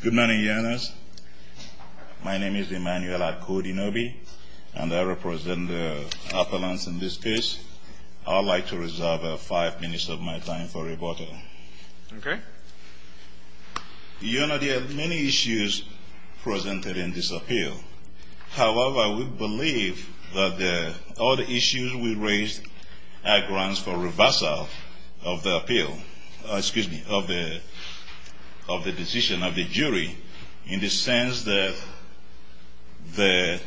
Good morning, your honors. My name is Emmanuel Akudinobi, and I represent the appellants in this case. I would like to reserve five minutes of my time for rebuttal. Okay. Your honor, there are many issues presented in this appeal. However, we believe that all the issues we raised are grounds for reversal of the appeal, excuse me, of the decision of the jury in the sense that the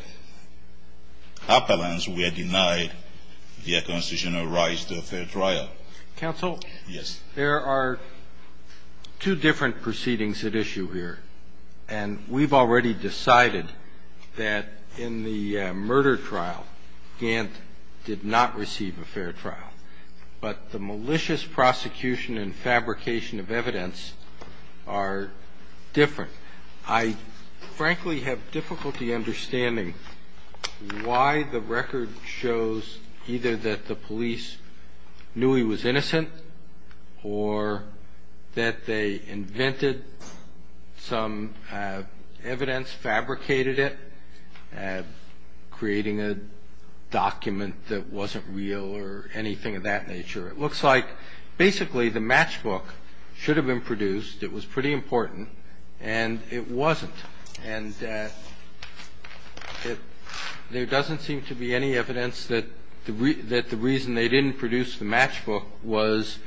appellants were denied their constitutional rights to a fair trial. Counsel, there are two different proceedings at issue here, and we've already decided that in the murder trial, Gantt did not receive a fair trial. But the malicious prosecution and fabrication of evidence are different. I frankly have difficulty understanding why the record shows either that the police knew he was innocent or that they invented some evidence, fabricated it, creating a document that wasn't real or anything of that nature. It looks like basically the matchbook should have been produced. It was pretty important, and it wasn't. And there doesn't seem to be any evidence that the reason they didn't produce the matchbook was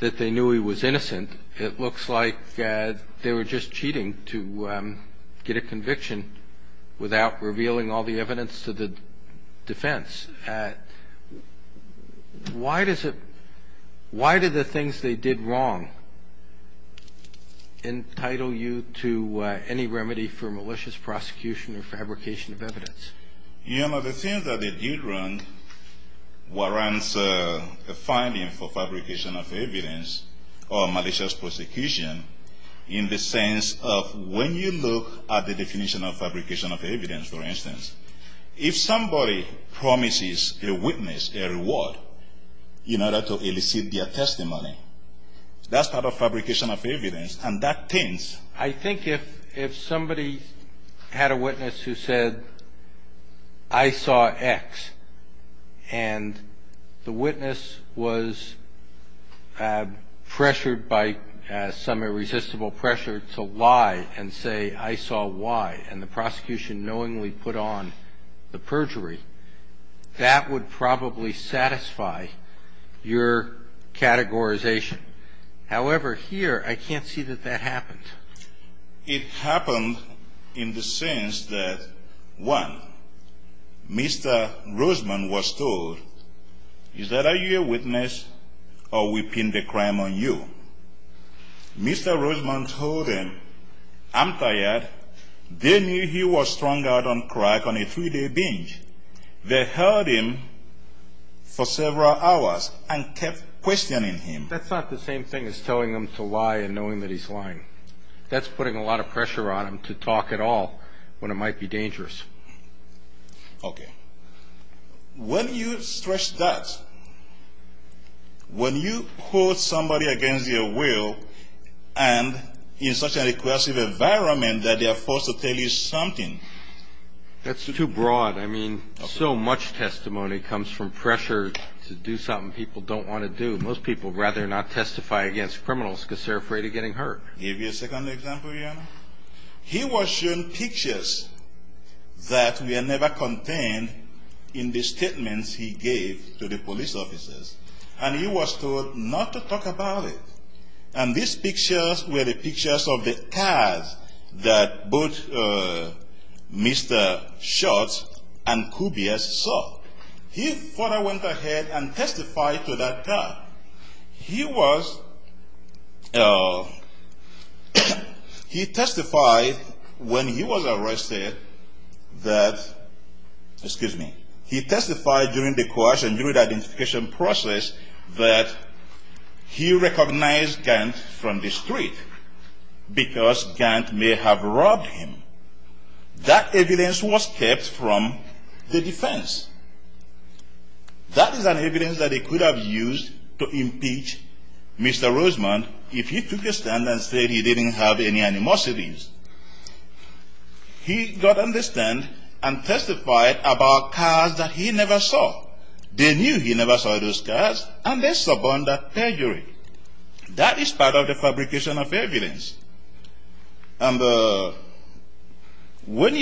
that they knew he was innocent. It looks like they were just cheating to get a conviction without revealing all the evidence to the defense. Why does it – why do the things they did wrong entitle you to any remedy for malicious prosecution or fabrication of evidence? You know, the things that they did wrong warrants a finding for fabrication of evidence or malicious prosecution in the sense of when you look at the definition of fabrication of evidence, for instance, if somebody promises a witness a reward in order to elicit their testimony, that's part of fabrication of evidence. I think if somebody had a witness who said, I saw X, and the witness was pressured by some irresistible pressure to lie and say, I saw Y, and the prosecution knowingly put on the perjury, that would probably satisfy your categorization. However, here, I can't see that that happened. It happened in the sense that, one, Mr. Roseman was told, is that are you a witness or we pin the crime on you? Mr. Roseman told him, I'm tired. They knew he was strung out on crack on a three-day binge. They held him for several hours and kept questioning him. That's not the same thing as telling him to lie and knowing that he's lying. That's putting a lot of pressure on him to talk at all when it might be dangerous. Okay. When you stress that, when you hold somebody against their will and in such a coercive environment that they are forced to tell you something. That's too broad. I mean, so much testimony comes from pressure to do something people don't want to do. Most people rather not testify against criminals because they're afraid of getting hurt. I'll give you a second example here. He was shown pictures that were never contained in the statements he gave to the police officers, and he was told not to talk about it. And these pictures were the pictures of the cars that both Mr. Schultz and Kubias saw. He further went ahead and testified to that car. He testified when he was arrested that, excuse me, he testified during the coercion, during the identification process, that he recognized Gant from the street because Gant may have robbed him. That evidence was kept from the defense. That is an evidence that he could have used to impeach Mr. Rosemond if he took a stand and said he didn't have any animosities. He got understand and testified about cars that he never saw. They knew he never saw those cars, and they suborned that perjury. That is part of the fabrication of evidence. I don't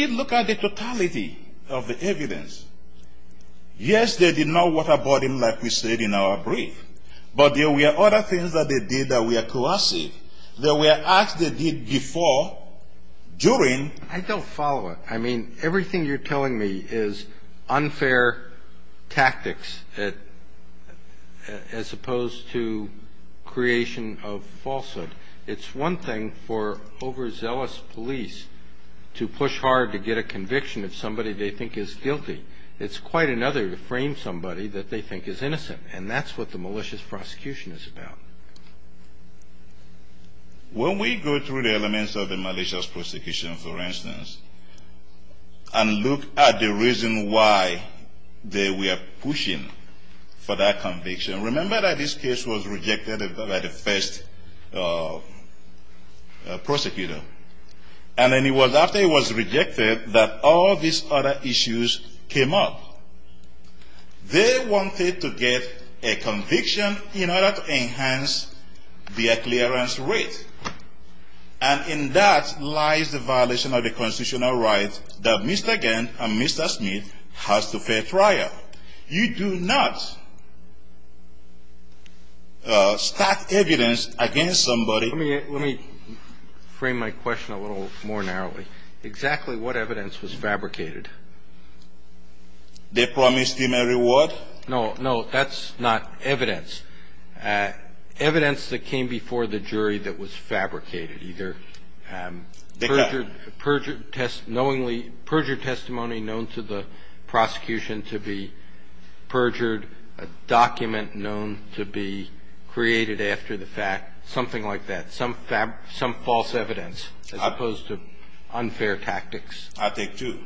follow it. I mean, everything you're telling me is unfair tactics as opposed to creation of falsehood. It's one thing for overzealous police to push hard to get a conviction of somebody they think is guilty. It's quite another to frame somebody that they think is innocent, and that's what the malicious prosecution is about. When we go through the elements of the malicious prosecution, for instance, and look at the reason why they were pushing for that conviction, remember that this case was rejected by the first prosecutor. And then it was after it was rejected that all these other issues came up. They wanted to get a conviction in order to enhance the clearance rate. And in that lies the violation of the constitutional right that Mr. Gant and Mr. Smith has to fair trial. You do not stack evidence against somebody Let me frame my question a little more narrowly. Exactly what evidence was fabricated? They promised him a reward? No, that's not evidence. Evidence that came before the jury that was fabricated, either perjured testimony known to the prosecution to be perjured, a document known to be created after the fact, something like that. Some false evidence as opposed to unfair tactics. I take two.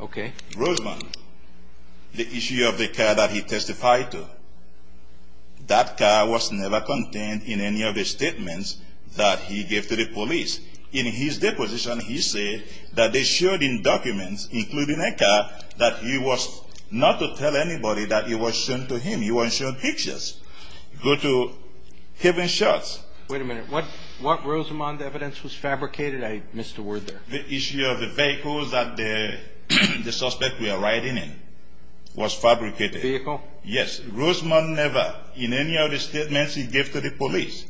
Okay. Rosamond, the issue of the car that he testified to, that car was never contained in any of the statements that he gave to the police. In his deposition, he said that they showed in documents, including a car, that he was not to tell anybody that it was shown to him. He wasn't shown pictures. Go to Kevin Schatz. Wait a minute. What Rosamond evidence was fabricated? I missed a word there. The issue of the vehicles that the suspect was riding in was fabricated. Vehicle? Yes. Rosamond never, in any of the statements he gave to the police,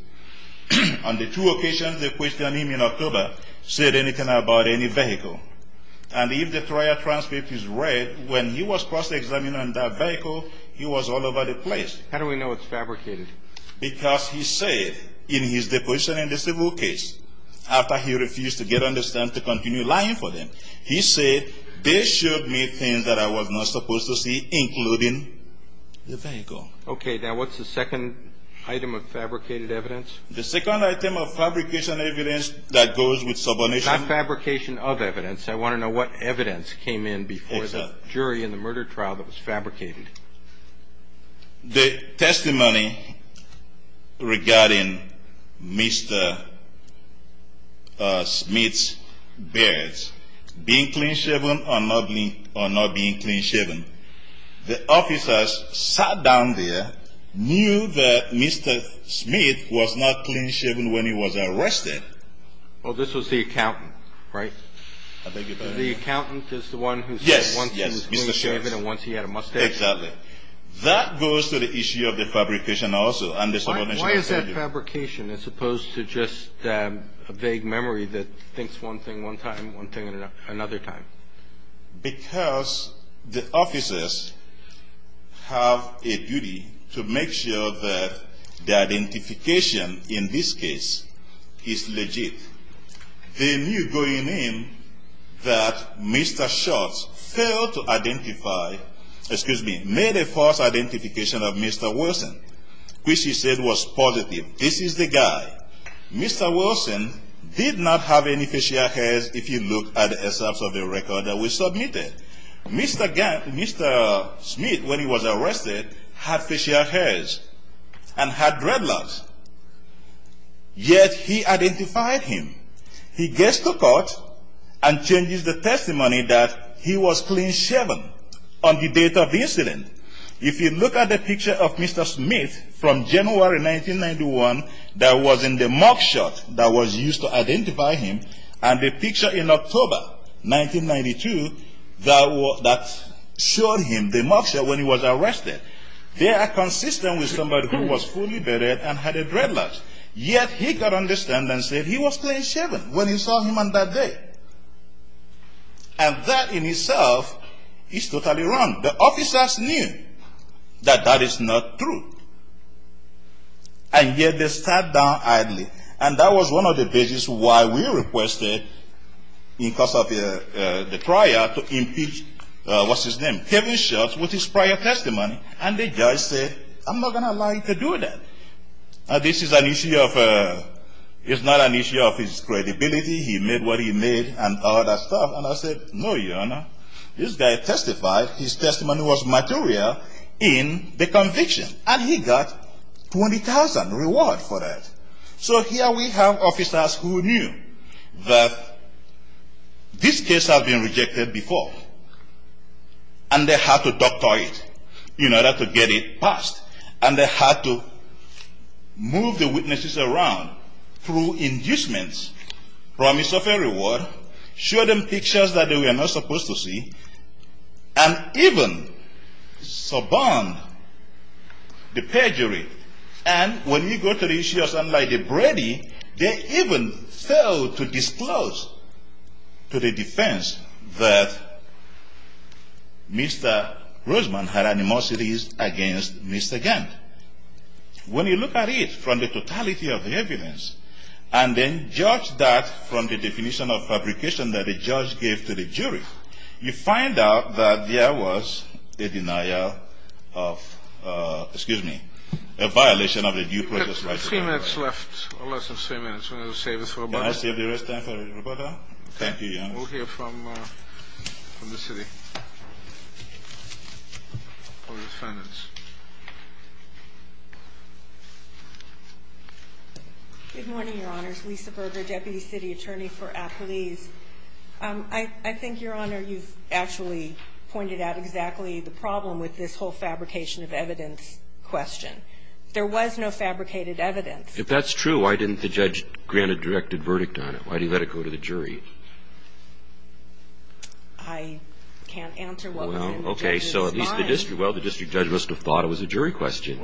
on the two occasions they questioned him in October, said anything about any vehicle. And if the trial transcript is read, when he was cross-examined on that vehicle, he was all over the place. How do we know it's fabricated? Because he said, in his deposition in the civil case, after he refused to get on the stand to continue lying for them, he said, they showed me things that I was not supposed to see, including the vehicle. Okay. Now, what's the second item of fabricated evidence? The second item of fabrication evidence that goes with subordination. Not fabrication of evidence. I want to know what evidence came in before the jury in the murder trial that was fabricated. The testimony regarding Mr. Smith's beards. Being clean shaven or not being clean shaven. The officers sat down there, knew that Mr. Smith was not clean shaven when he was arrested. Well, this was the accountant, right? I beg your pardon? The accountant is the one who said once he was clean shaven and once he had a mustache? Exactly. That goes to the issue of the fabrication also and the subordination of evidence. Why is that fabrication as opposed to just a vague memory that thinks one thing one time, one thing another time? Because the officers have a duty to make sure that the identification in this case is legit. They knew going in that Mr. Schultz failed to identify, excuse me, made a false identification of Mr. Wilson, which he said was positive. This is the guy. Mr. Wilson did not have any facial hairs if you look at the excerpts of the record that we submitted. Mr. Smith, when he was arrested, had facial hairs and had dreadlocks, yet he identified him. He gets to court and changes the testimony that he was clean shaven on the date of the incident. If you look at the picture of Mr. Smith from January 1991 that was in the mugshot that was used to identify him, and the picture in October 1992 that showed him the mugshot when he was arrested, they are consistent with somebody who was fully bedded and had a dreadlock. Yet he could understand and say he was clean shaven when he saw him on that day. And that in itself is totally wrong. The officers knew that that is not true, and yet they sat down idly. And that was one of the reasons why we requested, because of the trial, to impeach, what's his name, Kevin Schultz, with his prior testimony, and the judge said, I'm not going to allow you to do that. This is an issue of, it's not an issue of his credibility, he made what he made, and all that stuff. And I said, no, your honor, this guy testified, his testimony was material in the conviction, and he got $20,000 reward for that. So here we have officers who knew that this case had been rejected before, and they had to doctor it in order to get it passed. And they had to move the witnesses around through inducements, promise of a reward, show them pictures that they were not supposed to see, and even suborn the perjury. And when you go to the issue of son-in-law Brady, they even failed to disclose to the defense that Mr. Roseman had animosities against Mr. Gant. When you look at it from the totality of the evidence, and then judge that from the definition of fabrication that the judge gave to the jury, you find out that there was a denial of, excuse me, a violation of the due process rights. We have three minutes left, or less than three minutes. Can I save the rest of the time for Roberta? Thank you, your honor. We'll hear from the city. Good morning, your honors. Lisa Berger, deputy city attorney for Appalese. I think, your honor, you've actually pointed out exactly the problem with this whole fabrication of evidence question. There was no fabricated evidence. If that's true, why didn't the judge grant a directed verdict on it? Why did he let it go to the jury? I can't answer what went into the judge's mind. Well, okay. So at least the district judge must have thought it was a jury question.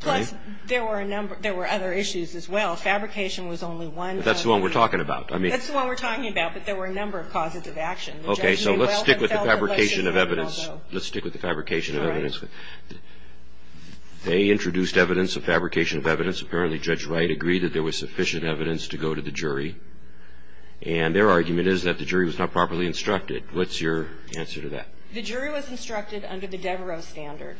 Plus, there were a number of other issues as well. Fabrication was only one of them. But that's the one we're talking about. That's the one we're talking about. But there were a number of causes of action. Okay. So let's stick with the fabrication of evidence. Let's stick with the fabrication of evidence. They introduced evidence of fabrication of evidence. Apparently, Judge Wright agreed that there was sufficient evidence to go to the jury. And their argument is that the jury was not properly instructed. What's your answer to that? The jury was instructed under the Devereaux standard.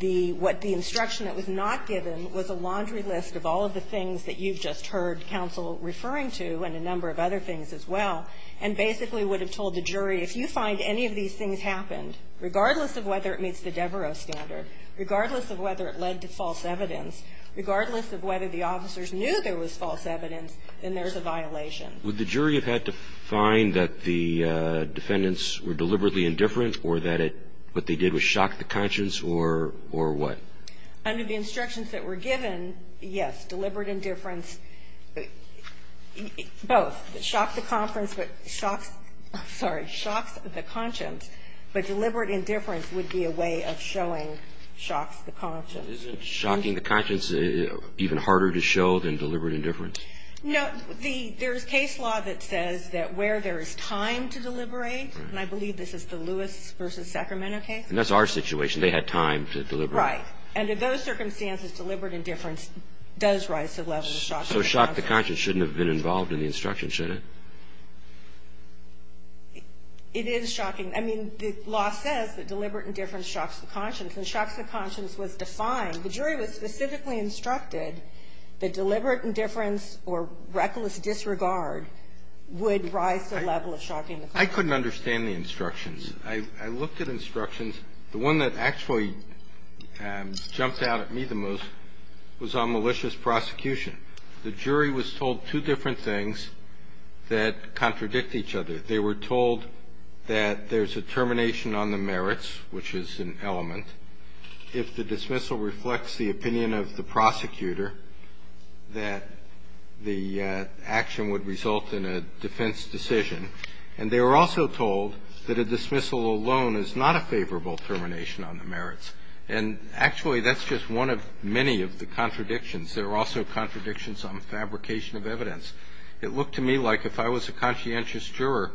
What the instruction that was not given was a laundry list of all of the things that the jury was instructed to do. And the jury was instructed to find a number of other things as well. And basically would have told the jury, if you find any of these things happened, regardless of whether it meets the Devereaux standard, regardless of whether it led to false evidence, regardless of whether the officers knew there was false evidence, then there's a violation. Would the jury have had to find that the defendants were deliberately indifferent or that what they did was shock the conscience or what? Under the instructions that were given, yes. Deliberate indifference. Both. Shock the conference, but shocks the conscience. But deliberate indifference would be a way of showing shocks the conscience. Isn't shocking the conscience even harder to show than deliberate indifference? No. There's case law that says that where there is time to deliberate, and I believe this is the Lewis v. Sacramento case. And that's our situation. They had time to deliberate. Right. And in those circumstances, deliberate indifference does rise to the level of shocks the conscience. So shock the conscience shouldn't have been involved in the instruction, should it? It is shocking. I mean, the law says that deliberate indifference shocks the conscience. When shocks the conscience was defined, the jury was specifically instructed that deliberate indifference or reckless disregard would rise to the level of shocking the conscience. I couldn't understand the instructions. I looked at instructions. The one that actually jumped out at me the most was on malicious prosecution. The jury was told two different things that contradict each other. They were told that there's a termination on the merits, which is an element. If the dismissal reflects the opinion of the prosecutor, that the action would result in a defense decision. And they were also told that a dismissal alone is not a favorable termination on the merits. And actually, that's just one of many of the contradictions. There are also contradictions on fabrication of evidence. It looked to me like if I was a conscientious juror,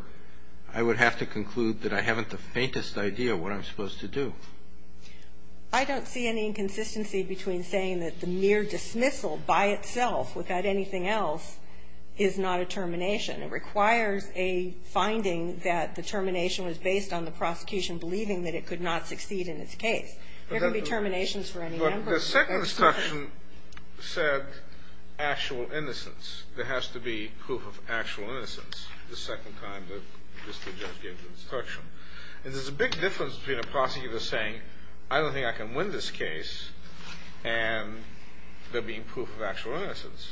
I would have to conclude that I haven't the faintest idea what I'm supposed to do. I don't see any inconsistency between saying that the mere dismissal by itself, without anything else, is not a termination. It requires a finding that the termination was based on the prosecution believing that it could not succeed in its case. There can be terminations for any number of reasons. But the second instruction said actual innocence. There has to be proof of actual innocence the second time that this judge gave the instruction. And there's a big difference between a prosecutor saying, I don't think I can win this case and there being proof of actual innocence.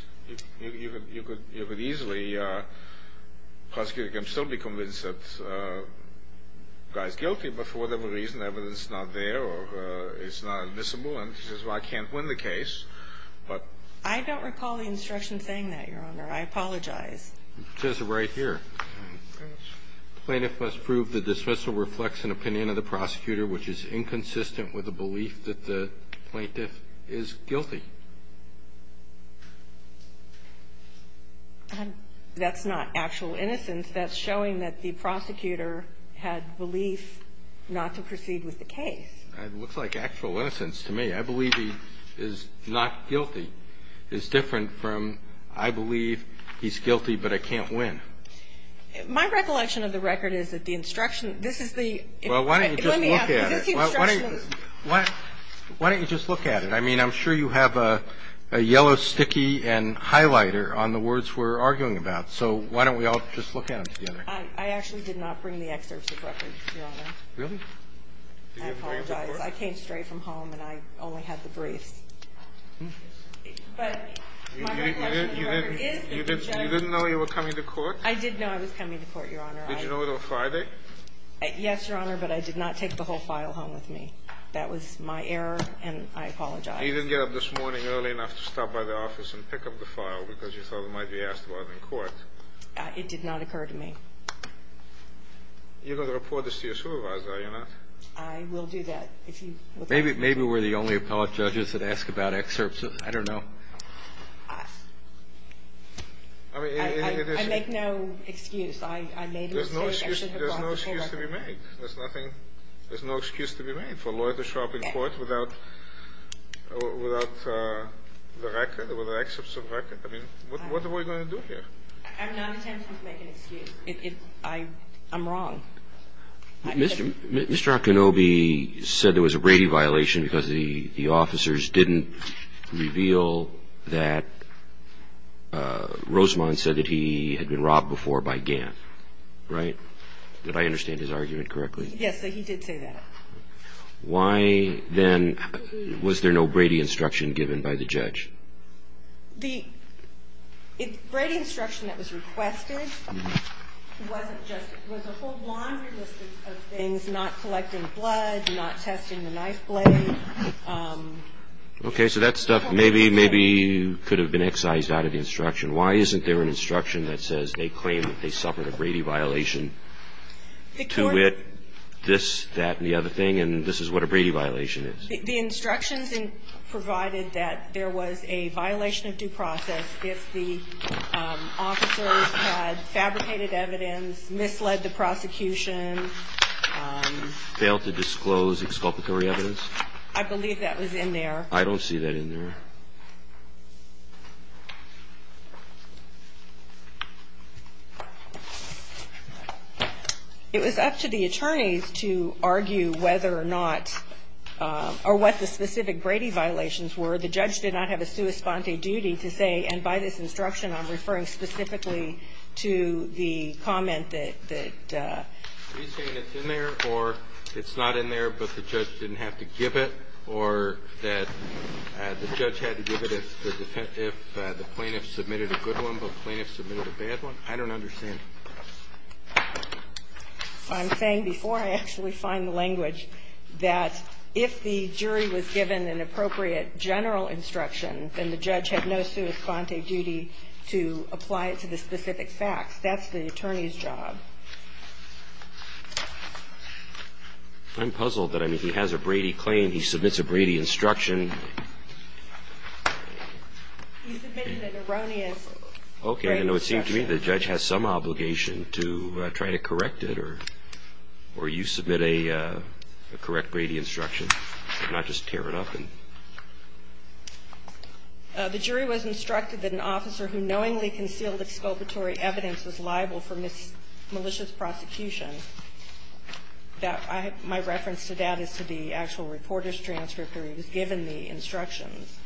You could easily, a prosecutor can still be convinced that the guy's guilty, but for whatever reason, evidence is not there or it's not admissible. And he says, well, I can't win the case. I don't recall the instruction saying that, Your Honor. I apologize. It says it right here. Plaintiff must prove the dismissal reflects an opinion of the prosecutor, which is inconsistent with the belief that the plaintiff is guilty. That's not actual innocence. That's showing that the prosecutor had belief not to proceed with the case. It looks like actual innocence to me. I believe he is not guilty. It's different from I believe he's guilty, but I can't win. My recollection of the record is that the instruction, this is the. Well, why don't you just look at it? Is this the instruction? Why don't you just look at it? I mean, I'm sure you have a yellow sticky and highlighter on the words we're arguing about. So why don't we all just look at them together? I actually did not bring the excerpt of the record, Your Honor. Really? I apologize. I came straight from home and I only had the briefs. But my recollection of the record is that the judge. You didn't know you were coming to court? I did know I was coming to court, Your Honor. Did you know it was Friday? Yes, Your Honor, but I did not take the whole file home with me. That was my error and I apologize. You didn't get up this morning early enough to stop by the office and pick up the file because you thought it might be asked about in court. It did not occur to me. You're going to report this to your supervisor, are you not? I will do that. Maybe we're the only appellate judges that ask about excerpts. I don't know. I make no excuse. There's no excuse to be made. There's no excuse to be made for a lawyer to show up in court without the record or the excerpts of the record. I mean, what are we going to do here? I'm not attempting to make an excuse. I'm wrong. Mr. Akinobi said there was a Brady violation because the officers didn't reveal that Rosemond said that he had been robbed before by Gant, right? Did I understand his argument correctly? Yes, he did say that. Why then was there no Brady instruction given by the judge? The Brady instruction that was requested was a whole laundry list of things, not collecting blood, not testing the knife blade. Okay, so that stuff maybe could have been excised out of the instruction. Why isn't there an instruction that says they claim that they suffered a Brady violation to wit this, that, and the other thing, and this is what a Brady violation is? The instructions provided that there was a violation of due process if the officers had fabricated evidence, misled the prosecution. Failed to disclose exculpatory evidence? I believe that was in there. I don't see that in there. It was up to the attorneys to argue whether or not, or what the specific Brady violations were. The judge did not have a sua sponte duty to say, and by this instruction I'm referring specifically to the comment that. Are you saying it's in there, or it's not in there, but the judge didn't have to give it, or that the judge had to give it anyway? If the plaintiff submitted a good one, but the plaintiff submitted a bad one, I don't understand. I'm saying before I actually find the language that if the jury was given an appropriate general instruction, then the judge had no sua sponte duty to apply it to the specific facts. That's the attorney's job. I'm puzzled that, I mean, he has a Brady claim, he submits a Brady instruction. He submitted an erroneous Brady instruction. Okay. I know it seems to me the judge has some obligation to try to correct it, or you submit a correct Brady instruction, not just tear it up. The jury was instructed that an officer who knowingly concealed exculpatory evidence was liable for malicious prosecution. My reference to that is to the actual reporter's transcript where he was given the instructions.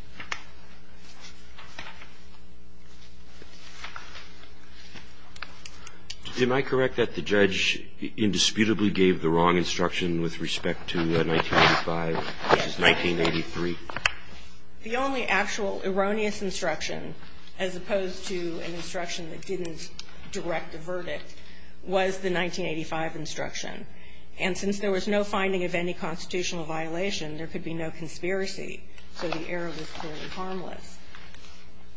Am I correct that the judge indisputably gave the wrong instruction with respect to 1985 v. 1983? The only actual erroneous instruction, as opposed to an instruction that didn't direct the verdict, was the 1985 instruction. And since there was no finding of any constitutional violation, there could be no conspiracy. So the error was clearly harmless.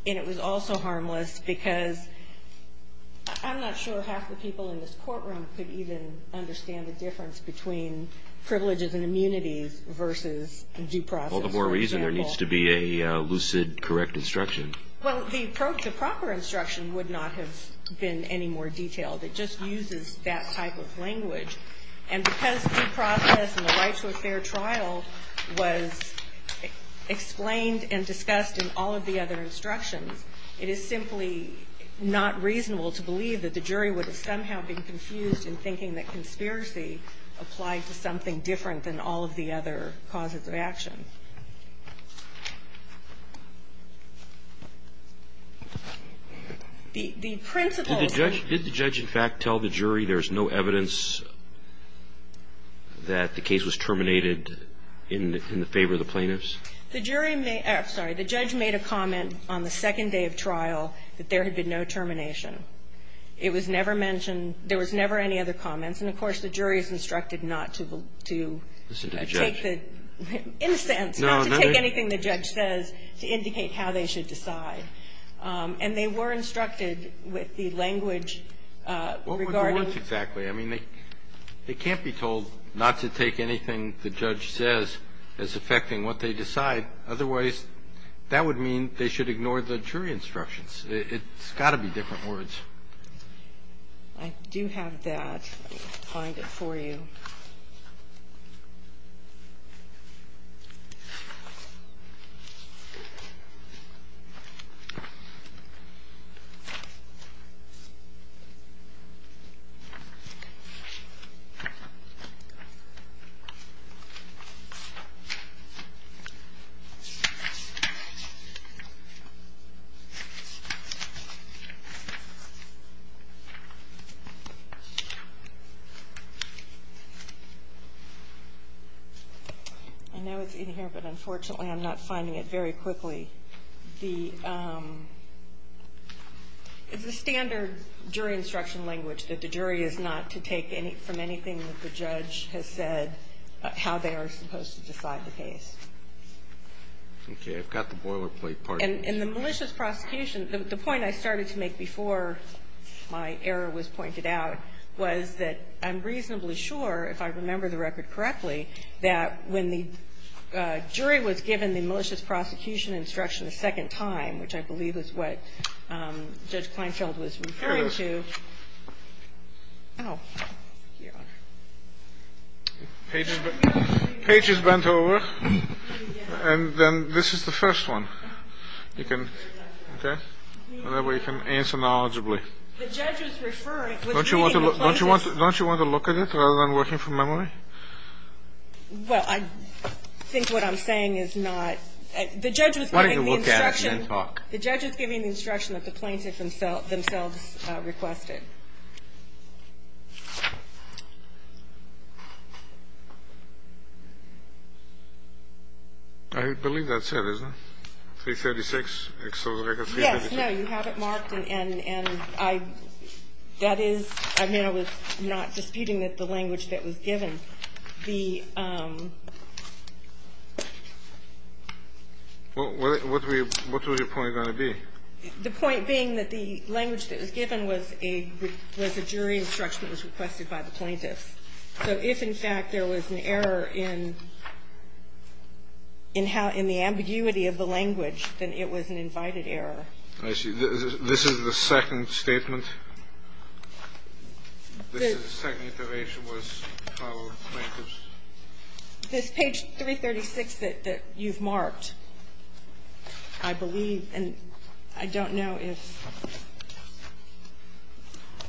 And it was also harmless because I'm not sure half the people in this courtroom could even understand the difference between privileges and immunities versus due process, for example. All the more reason there needs to be a lucid, correct instruction. Well, the proper instruction would not have been any more detailed. It just uses that type of language. And because due process in the right to a fair trial was explained and discussed in all of the other instructions, it is simply not reasonable to believe that the jury would have somehow been confused in thinking that conspiracy applied to something different than all of the other causes of action. The principle of the judge. Did the judge, in fact, tell the jury there's no evidence that the case was terminated in the favor of the plaintiffs? The jury made the judge made a comment on the second day of trial that there had been no termination. It was never mentioned. There was never any other comments. And, of course, the jury is instructed not to take the in a sense, not to take anything the judge says to indicate how they should decide. And they were instructed with the language regarding. What were the words exactly? I mean, they can't be told not to take anything the judge says as affecting what they decide. Otherwise, that would mean they should ignore the jury instructions. It's got to be different words. I do have that. Find it for you. I know it's in here, but unfortunately, I'm not finding it very quickly. The standard jury instruction language that the jury is not to take from anything that the judge has said how they are supposed to decide the case. Okay. I've got the boilerplate part. And the malicious prosecution, the point I started to make before my error was pointed out was that I'm reasonably sure, if I remember the record correctly, that when the jury was given the malicious prosecution instruction a second time, which I believe is what Judge Kleinfeld was referring to. Page is bent over. And then this is the first one. Okay. And that way you can answer knowledgeably. Don't you want to look at it rather than working from memory? Well, I think what I'm saying is not. The judge was giving the instruction. The judge is giving the instruction that the plaintiff themselves requested. I believe that's it, isn't it? 336. Yes. No. You have it marked. And that is, I mean, I was not disputing that the language that was given, the. What was your point going to be? The point being that the language that was given was a jury instruction that was requested by the plaintiff. So if, in fact, there was an error in the ambiguity of the language, then it was an invited error. I see. This is the second statement? This is the second iteration was how plaintiffs. This page 336 that you've marked, I believe. And I don't know if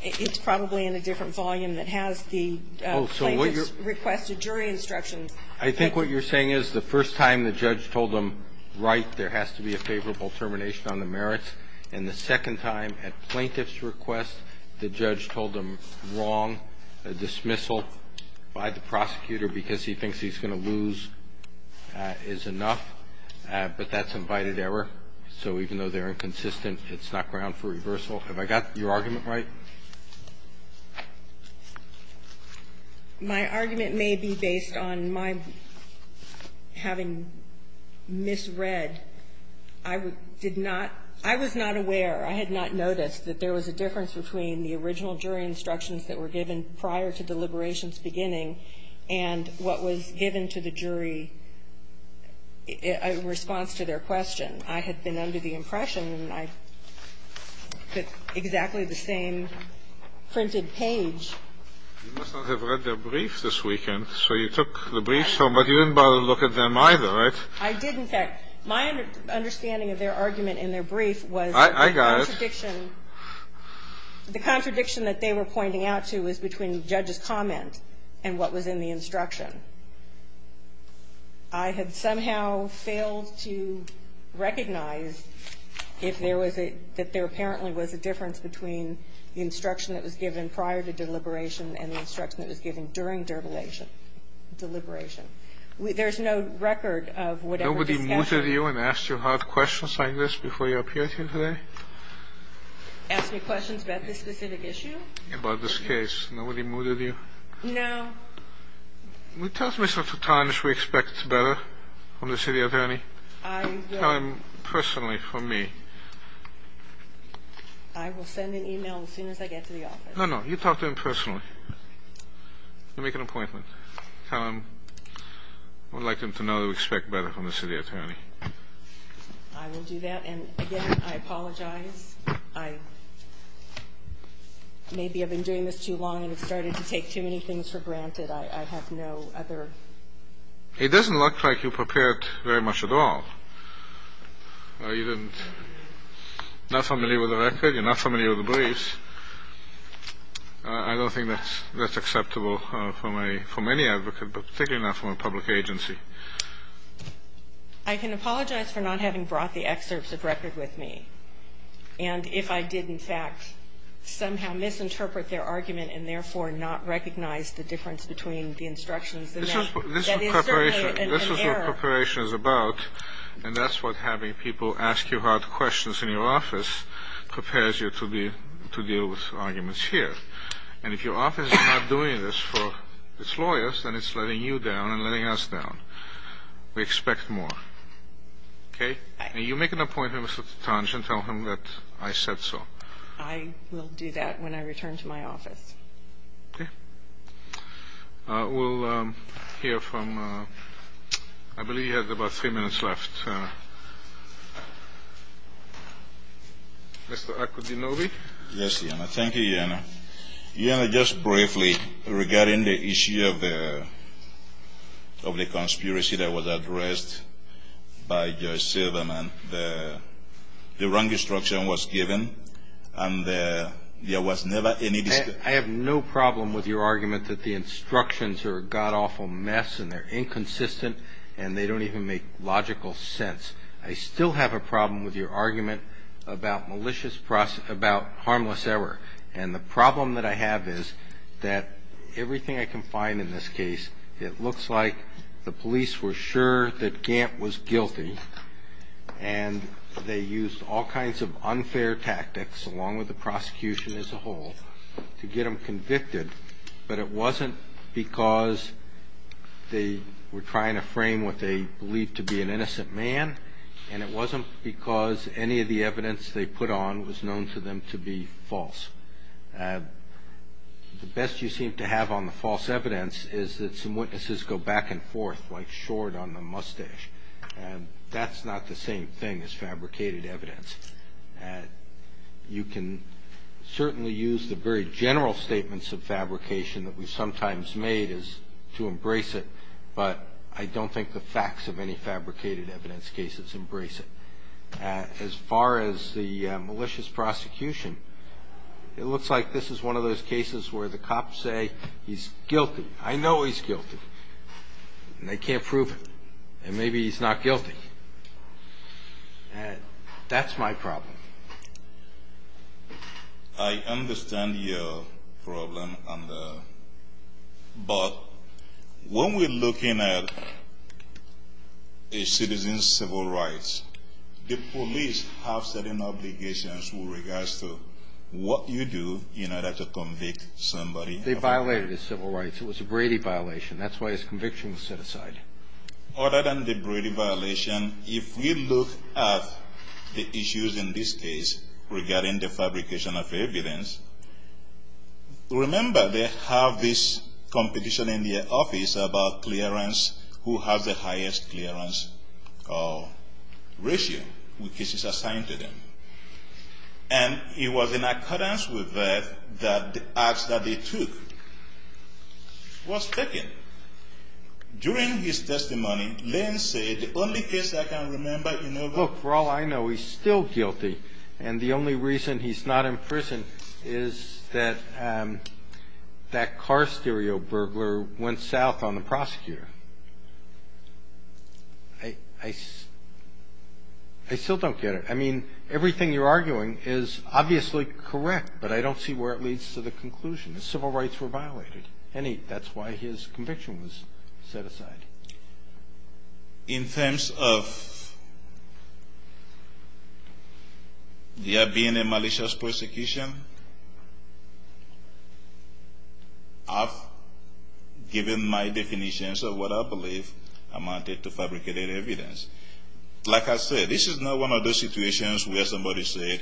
it's probably in a different volume that has the plaintiff's requested jury instructions. I think what you're saying is the first time the judge told them, right, there has to be a favorable termination on the merits. And the second time at plaintiff's request, the judge told them wrong, a dismissal by the prosecutor because he thinks he's going to lose is enough. But that's invited error. So even though they're inconsistent, it's not ground for reversal. Have I got your argument right? My argument may be based on my having misread. I did not – I was not aware, I had not noticed, that there was a difference between the original jury instructions that were given prior to deliberations beginning and what was given to the jury in response to their question. I had been under the impression, and I put exactly the same printed page. You must not have read their brief this weekend. So you took the briefs home, but you didn't bother to look at them either, right? I did. In fact, my understanding of their argument in their brief was the contradiction – the contradiction that they were pointing out to was between the judge's comment and what was in the instruction. I had somehow failed to recognize if there was a – that there apparently was a difference between the instruction that was given prior to deliberation and the instruction that was given during deliberation. There's no record of whatever discussion – Before you appear here today? Ask me questions about this specific issue? About this case. Nobody mooted you? No. Will you tell Mr. Sutton if we expect better from the city attorney? I will. Tell him personally, from me. I will send an email as soon as I get to the office. No, no, you talk to him personally. You'll make an appointment. Tell him we'd like him to know that we expect better from the city attorney. I will do that. And, again, I apologize. I – maybe I've been doing this too long and have started to take too many things for granted. I have no other – It doesn't look like you prepared very much at all. You didn't – not familiar with the record? You're not familiar with the briefs? I don't think that's acceptable from a – from any advocate, but particularly not from a public agency. I can apologize for not having brought the excerpts of record with me. And if I did, in fact, somehow misinterpret their argument and, therefore, not recognize the difference between the instructions and that, that is certainly an error. This is what preparation is about, and that's what having people ask you hard questions in your office prepares you to deal with arguments here. And if your office is not doing this for its lawyers, then it's letting you down and letting us down. We expect more. Okay? And you make an appointment with Mr. Tanch and tell him that I said so. I will do that when I return to my office. Okay. We'll hear from – I believe you have about three minutes left. Yes, Iana. Thank you, Iana. Iana, just briefly regarding the issue of the conspiracy that was addressed by Judge Silverman. The wrong instruction was given, and there was never any discussion. I have no problem with your argument that the instructions are a God-awful mess and they're inconsistent and they don't even make logical sense. I still have a problem with your argument about malicious – about harmless error and the problem that I have is that everything I can find in this case, it looks like the police were sure that Gant was guilty and they used all kinds of unfair tactics along with the prosecution as a whole to get him convicted, but it wasn't because they were trying to frame what they believed to be an innocent man and it wasn't because any of the evidence they put on was known to them to be false. The best you seem to have on the false evidence is that some witnesses go back and forth, like short on the mustache, and that's not the same thing as fabricated evidence. You can certainly use the very general statements of fabrication that we sometimes made to embrace it, but I don't think the facts of any fabricated evidence cases embrace it. As far as the malicious prosecution, it looks like this is one of those cases where the cops say he's guilty. I know he's guilty, and they can't prove it, and maybe he's not guilty. That's my problem. I understand your problem, but when we're looking at a citizen's civil rights, the police have certain obligations with regards to what you do in order to convict somebody. They violated his civil rights. It was a Brady violation. That's why his conviction was set aside. Other than the Brady violation, if we look at the issues in this case regarding the fabrication of evidence, remember they have this competition in the office about clearance, who has the highest clearance ratio, which is assigned to them. And it was in accordance with that that the act that they took was taken. During his testimony, Lynn said, The only case I can remember, you know, Look, for all I know, he's still guilty, and the only reason he's not in prison is that that car stereo burglar went south on the prosecutor. I still don't get it. I mean, everything you're arguing is obviously correct, but I don't see where it leads to the conclusion that civil rights were violated. And that's why his conviction was set aside. In terms of there being a malicious persecution, I've given my definitions of what I believe amounted to fabricated evidence. Like I said, this is not one of those situations where somebody said,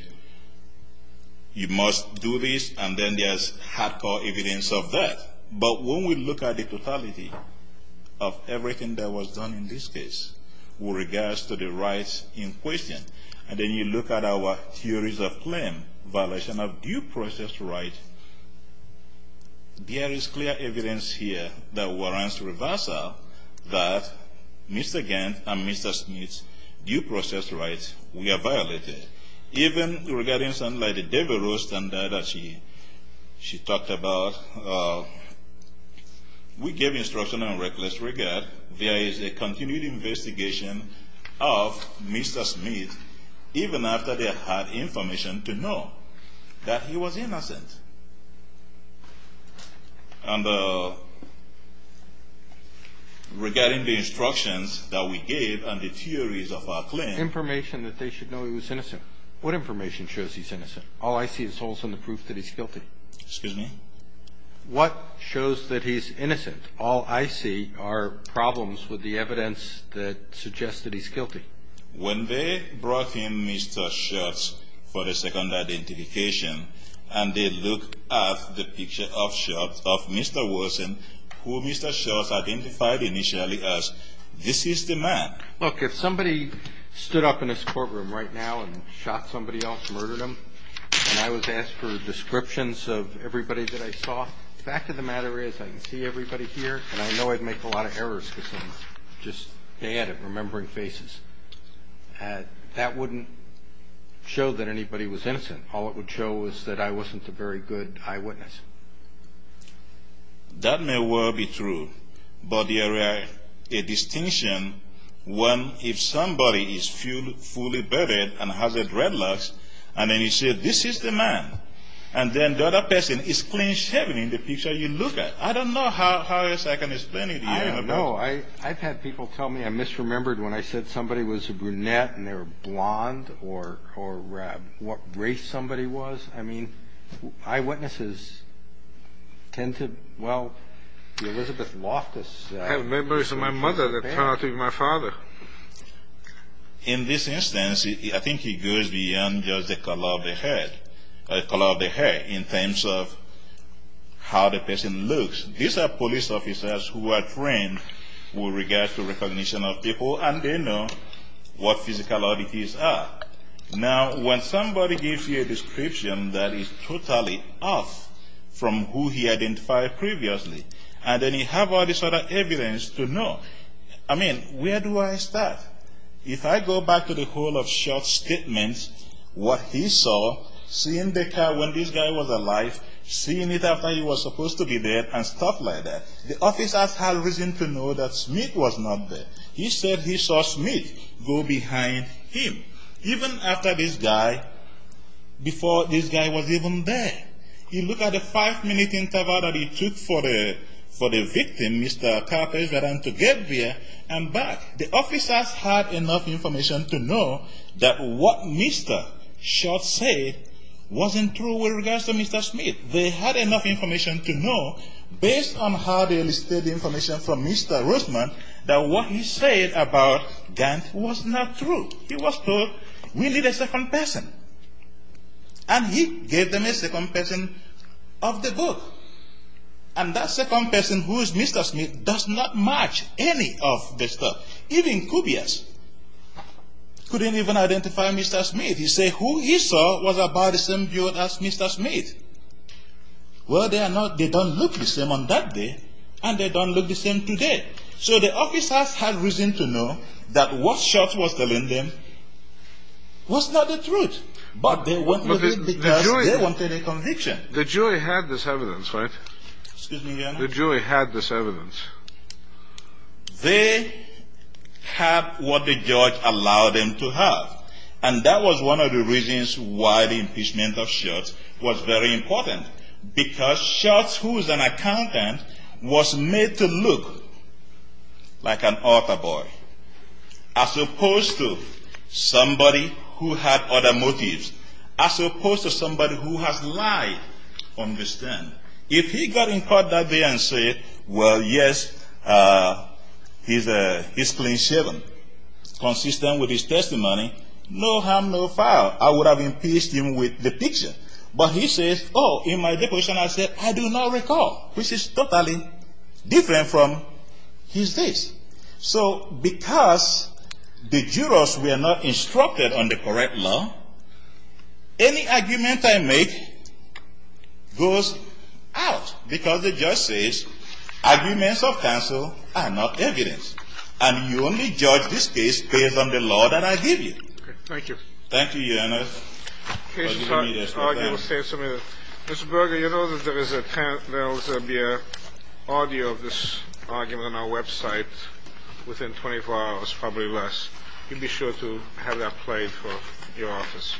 You must do this, and then there's hardcore evidence of that. But when we look at the totality of everything that was done in this case with regards to the rights in question, and then you look at our theories of claim, violation of due process rights, there is clear evidence here that warrants reversal that Mr. Gant and Mr. Smith's due process rights were violated. Even regarding something like the Devereux standard that she talked about, we gave instruction on reckless regard. There is a continued investigation of Mr. Smith, even after they had information to know that he was innocent. And regarding the instructions that we gave and the theories of our claim, there is information that they should know he was innocent. What information shows he's innocent? All I see is holes in the proof that he's guilty. Excuse me? What shows that he's innocent? All I see are problems with the evidence that suggests that he's guilty. When they brought in Mr. Schultz for the second identification, and they look at the picture of Schultz of Mr. Wilson, who Mr. Schultz identified initially as, this is the man. Look, if somebody stood up in this courtroom right now and shot somebody else, murdered them, and I was asked for descriptions of everybody that I saw, the fact of the matter is I can see everybody here, and I know I'd make a lot of errors because I'm just bad at remembering faces. That wouldn't show that anybody was innocent. All it would show is that I wasn't a very good eyewitness. That may well be true, but there is a distinction when if somebody is fully bearded and has red locks, and then you say this is the man, and then the other person is clean shaven in the picture you look at. I don't know how else I can explain it. I don't know. I've had people tell me I misremembered when I said somebody was a brunette and they were blonde or what race somebody was. I mean, eyewitnesses tend to, well, Elizabeth Loftus. I have memories of my mother that turn out to be my father. In this instance, I think he goes beyond just the color of the hair in terms of how the person looks. These are police officers who are trained with regards to recognition of people, and they know what physical oddities are. Now, when somebody gives you a description that is totally off from who he identified previously, and then you have all this other evidence to know, I mean, where do I start? If I go back to the whole of short statements, what he saw, seeing the car when this guy was alive, seeing it after he was supposed to be dead, and stuff like that. The officers had reason to know that Smith was not there. He said he saw Smith go behind him, even after this guy, before this guy was even there. You look at the five-minute interval that he took for the victim, Mr. Carpenter, and to get there and back. The officers had enough information to know that what Mr. Schultz said wasn't true with regards to Mr. Smith. They had enough information to know, based on how they listed the information from Mr. Roosman, that what he said about Gant was not true. He was told, we need a second person. And he gave them a second person of the book. And that second person, who is Mr. Smith, does not match any of the stuff. Even Cubias couldn't even identify Mr. Smith. If you say who he saw was about the same build as Mr. Smith, well, they don't look the same on that day, and they don't look the same today. So the officers had reason to know that what Schultz was telling them was not the truth. But they wanted it because they wanted a conviction. The jury had this evidence, right? Excuse me, Your Honor? The jury had this evidence. They had what the judge allowed them to have. And that was one of the reasons why the impeachment of Schultz was very important. Because Schultz, who is an accountant, was made to look like an author boy, as opposed to somebody who had other motives, as opposed to somebody who has lied on this stand. If he got in court that day and said, well, yes, he's clean shaven, consistent with his testimony, no harm, no foul. I would have impeached him with the picture. But he says, oh, in my deposition I said, I do not recall, which is totally different from his case. So because the jurors were not instructed on the correct law, any argument I make goes out, because the judge says arguments of counsel are not evidence. And you only judge this case based on the law that I give you. Thank you. Thank you, Your Honor. Mr. Berger, you know that there will be an audio of this argument on our website within 24 hours, probably less. You'll be sure to have that played for your office.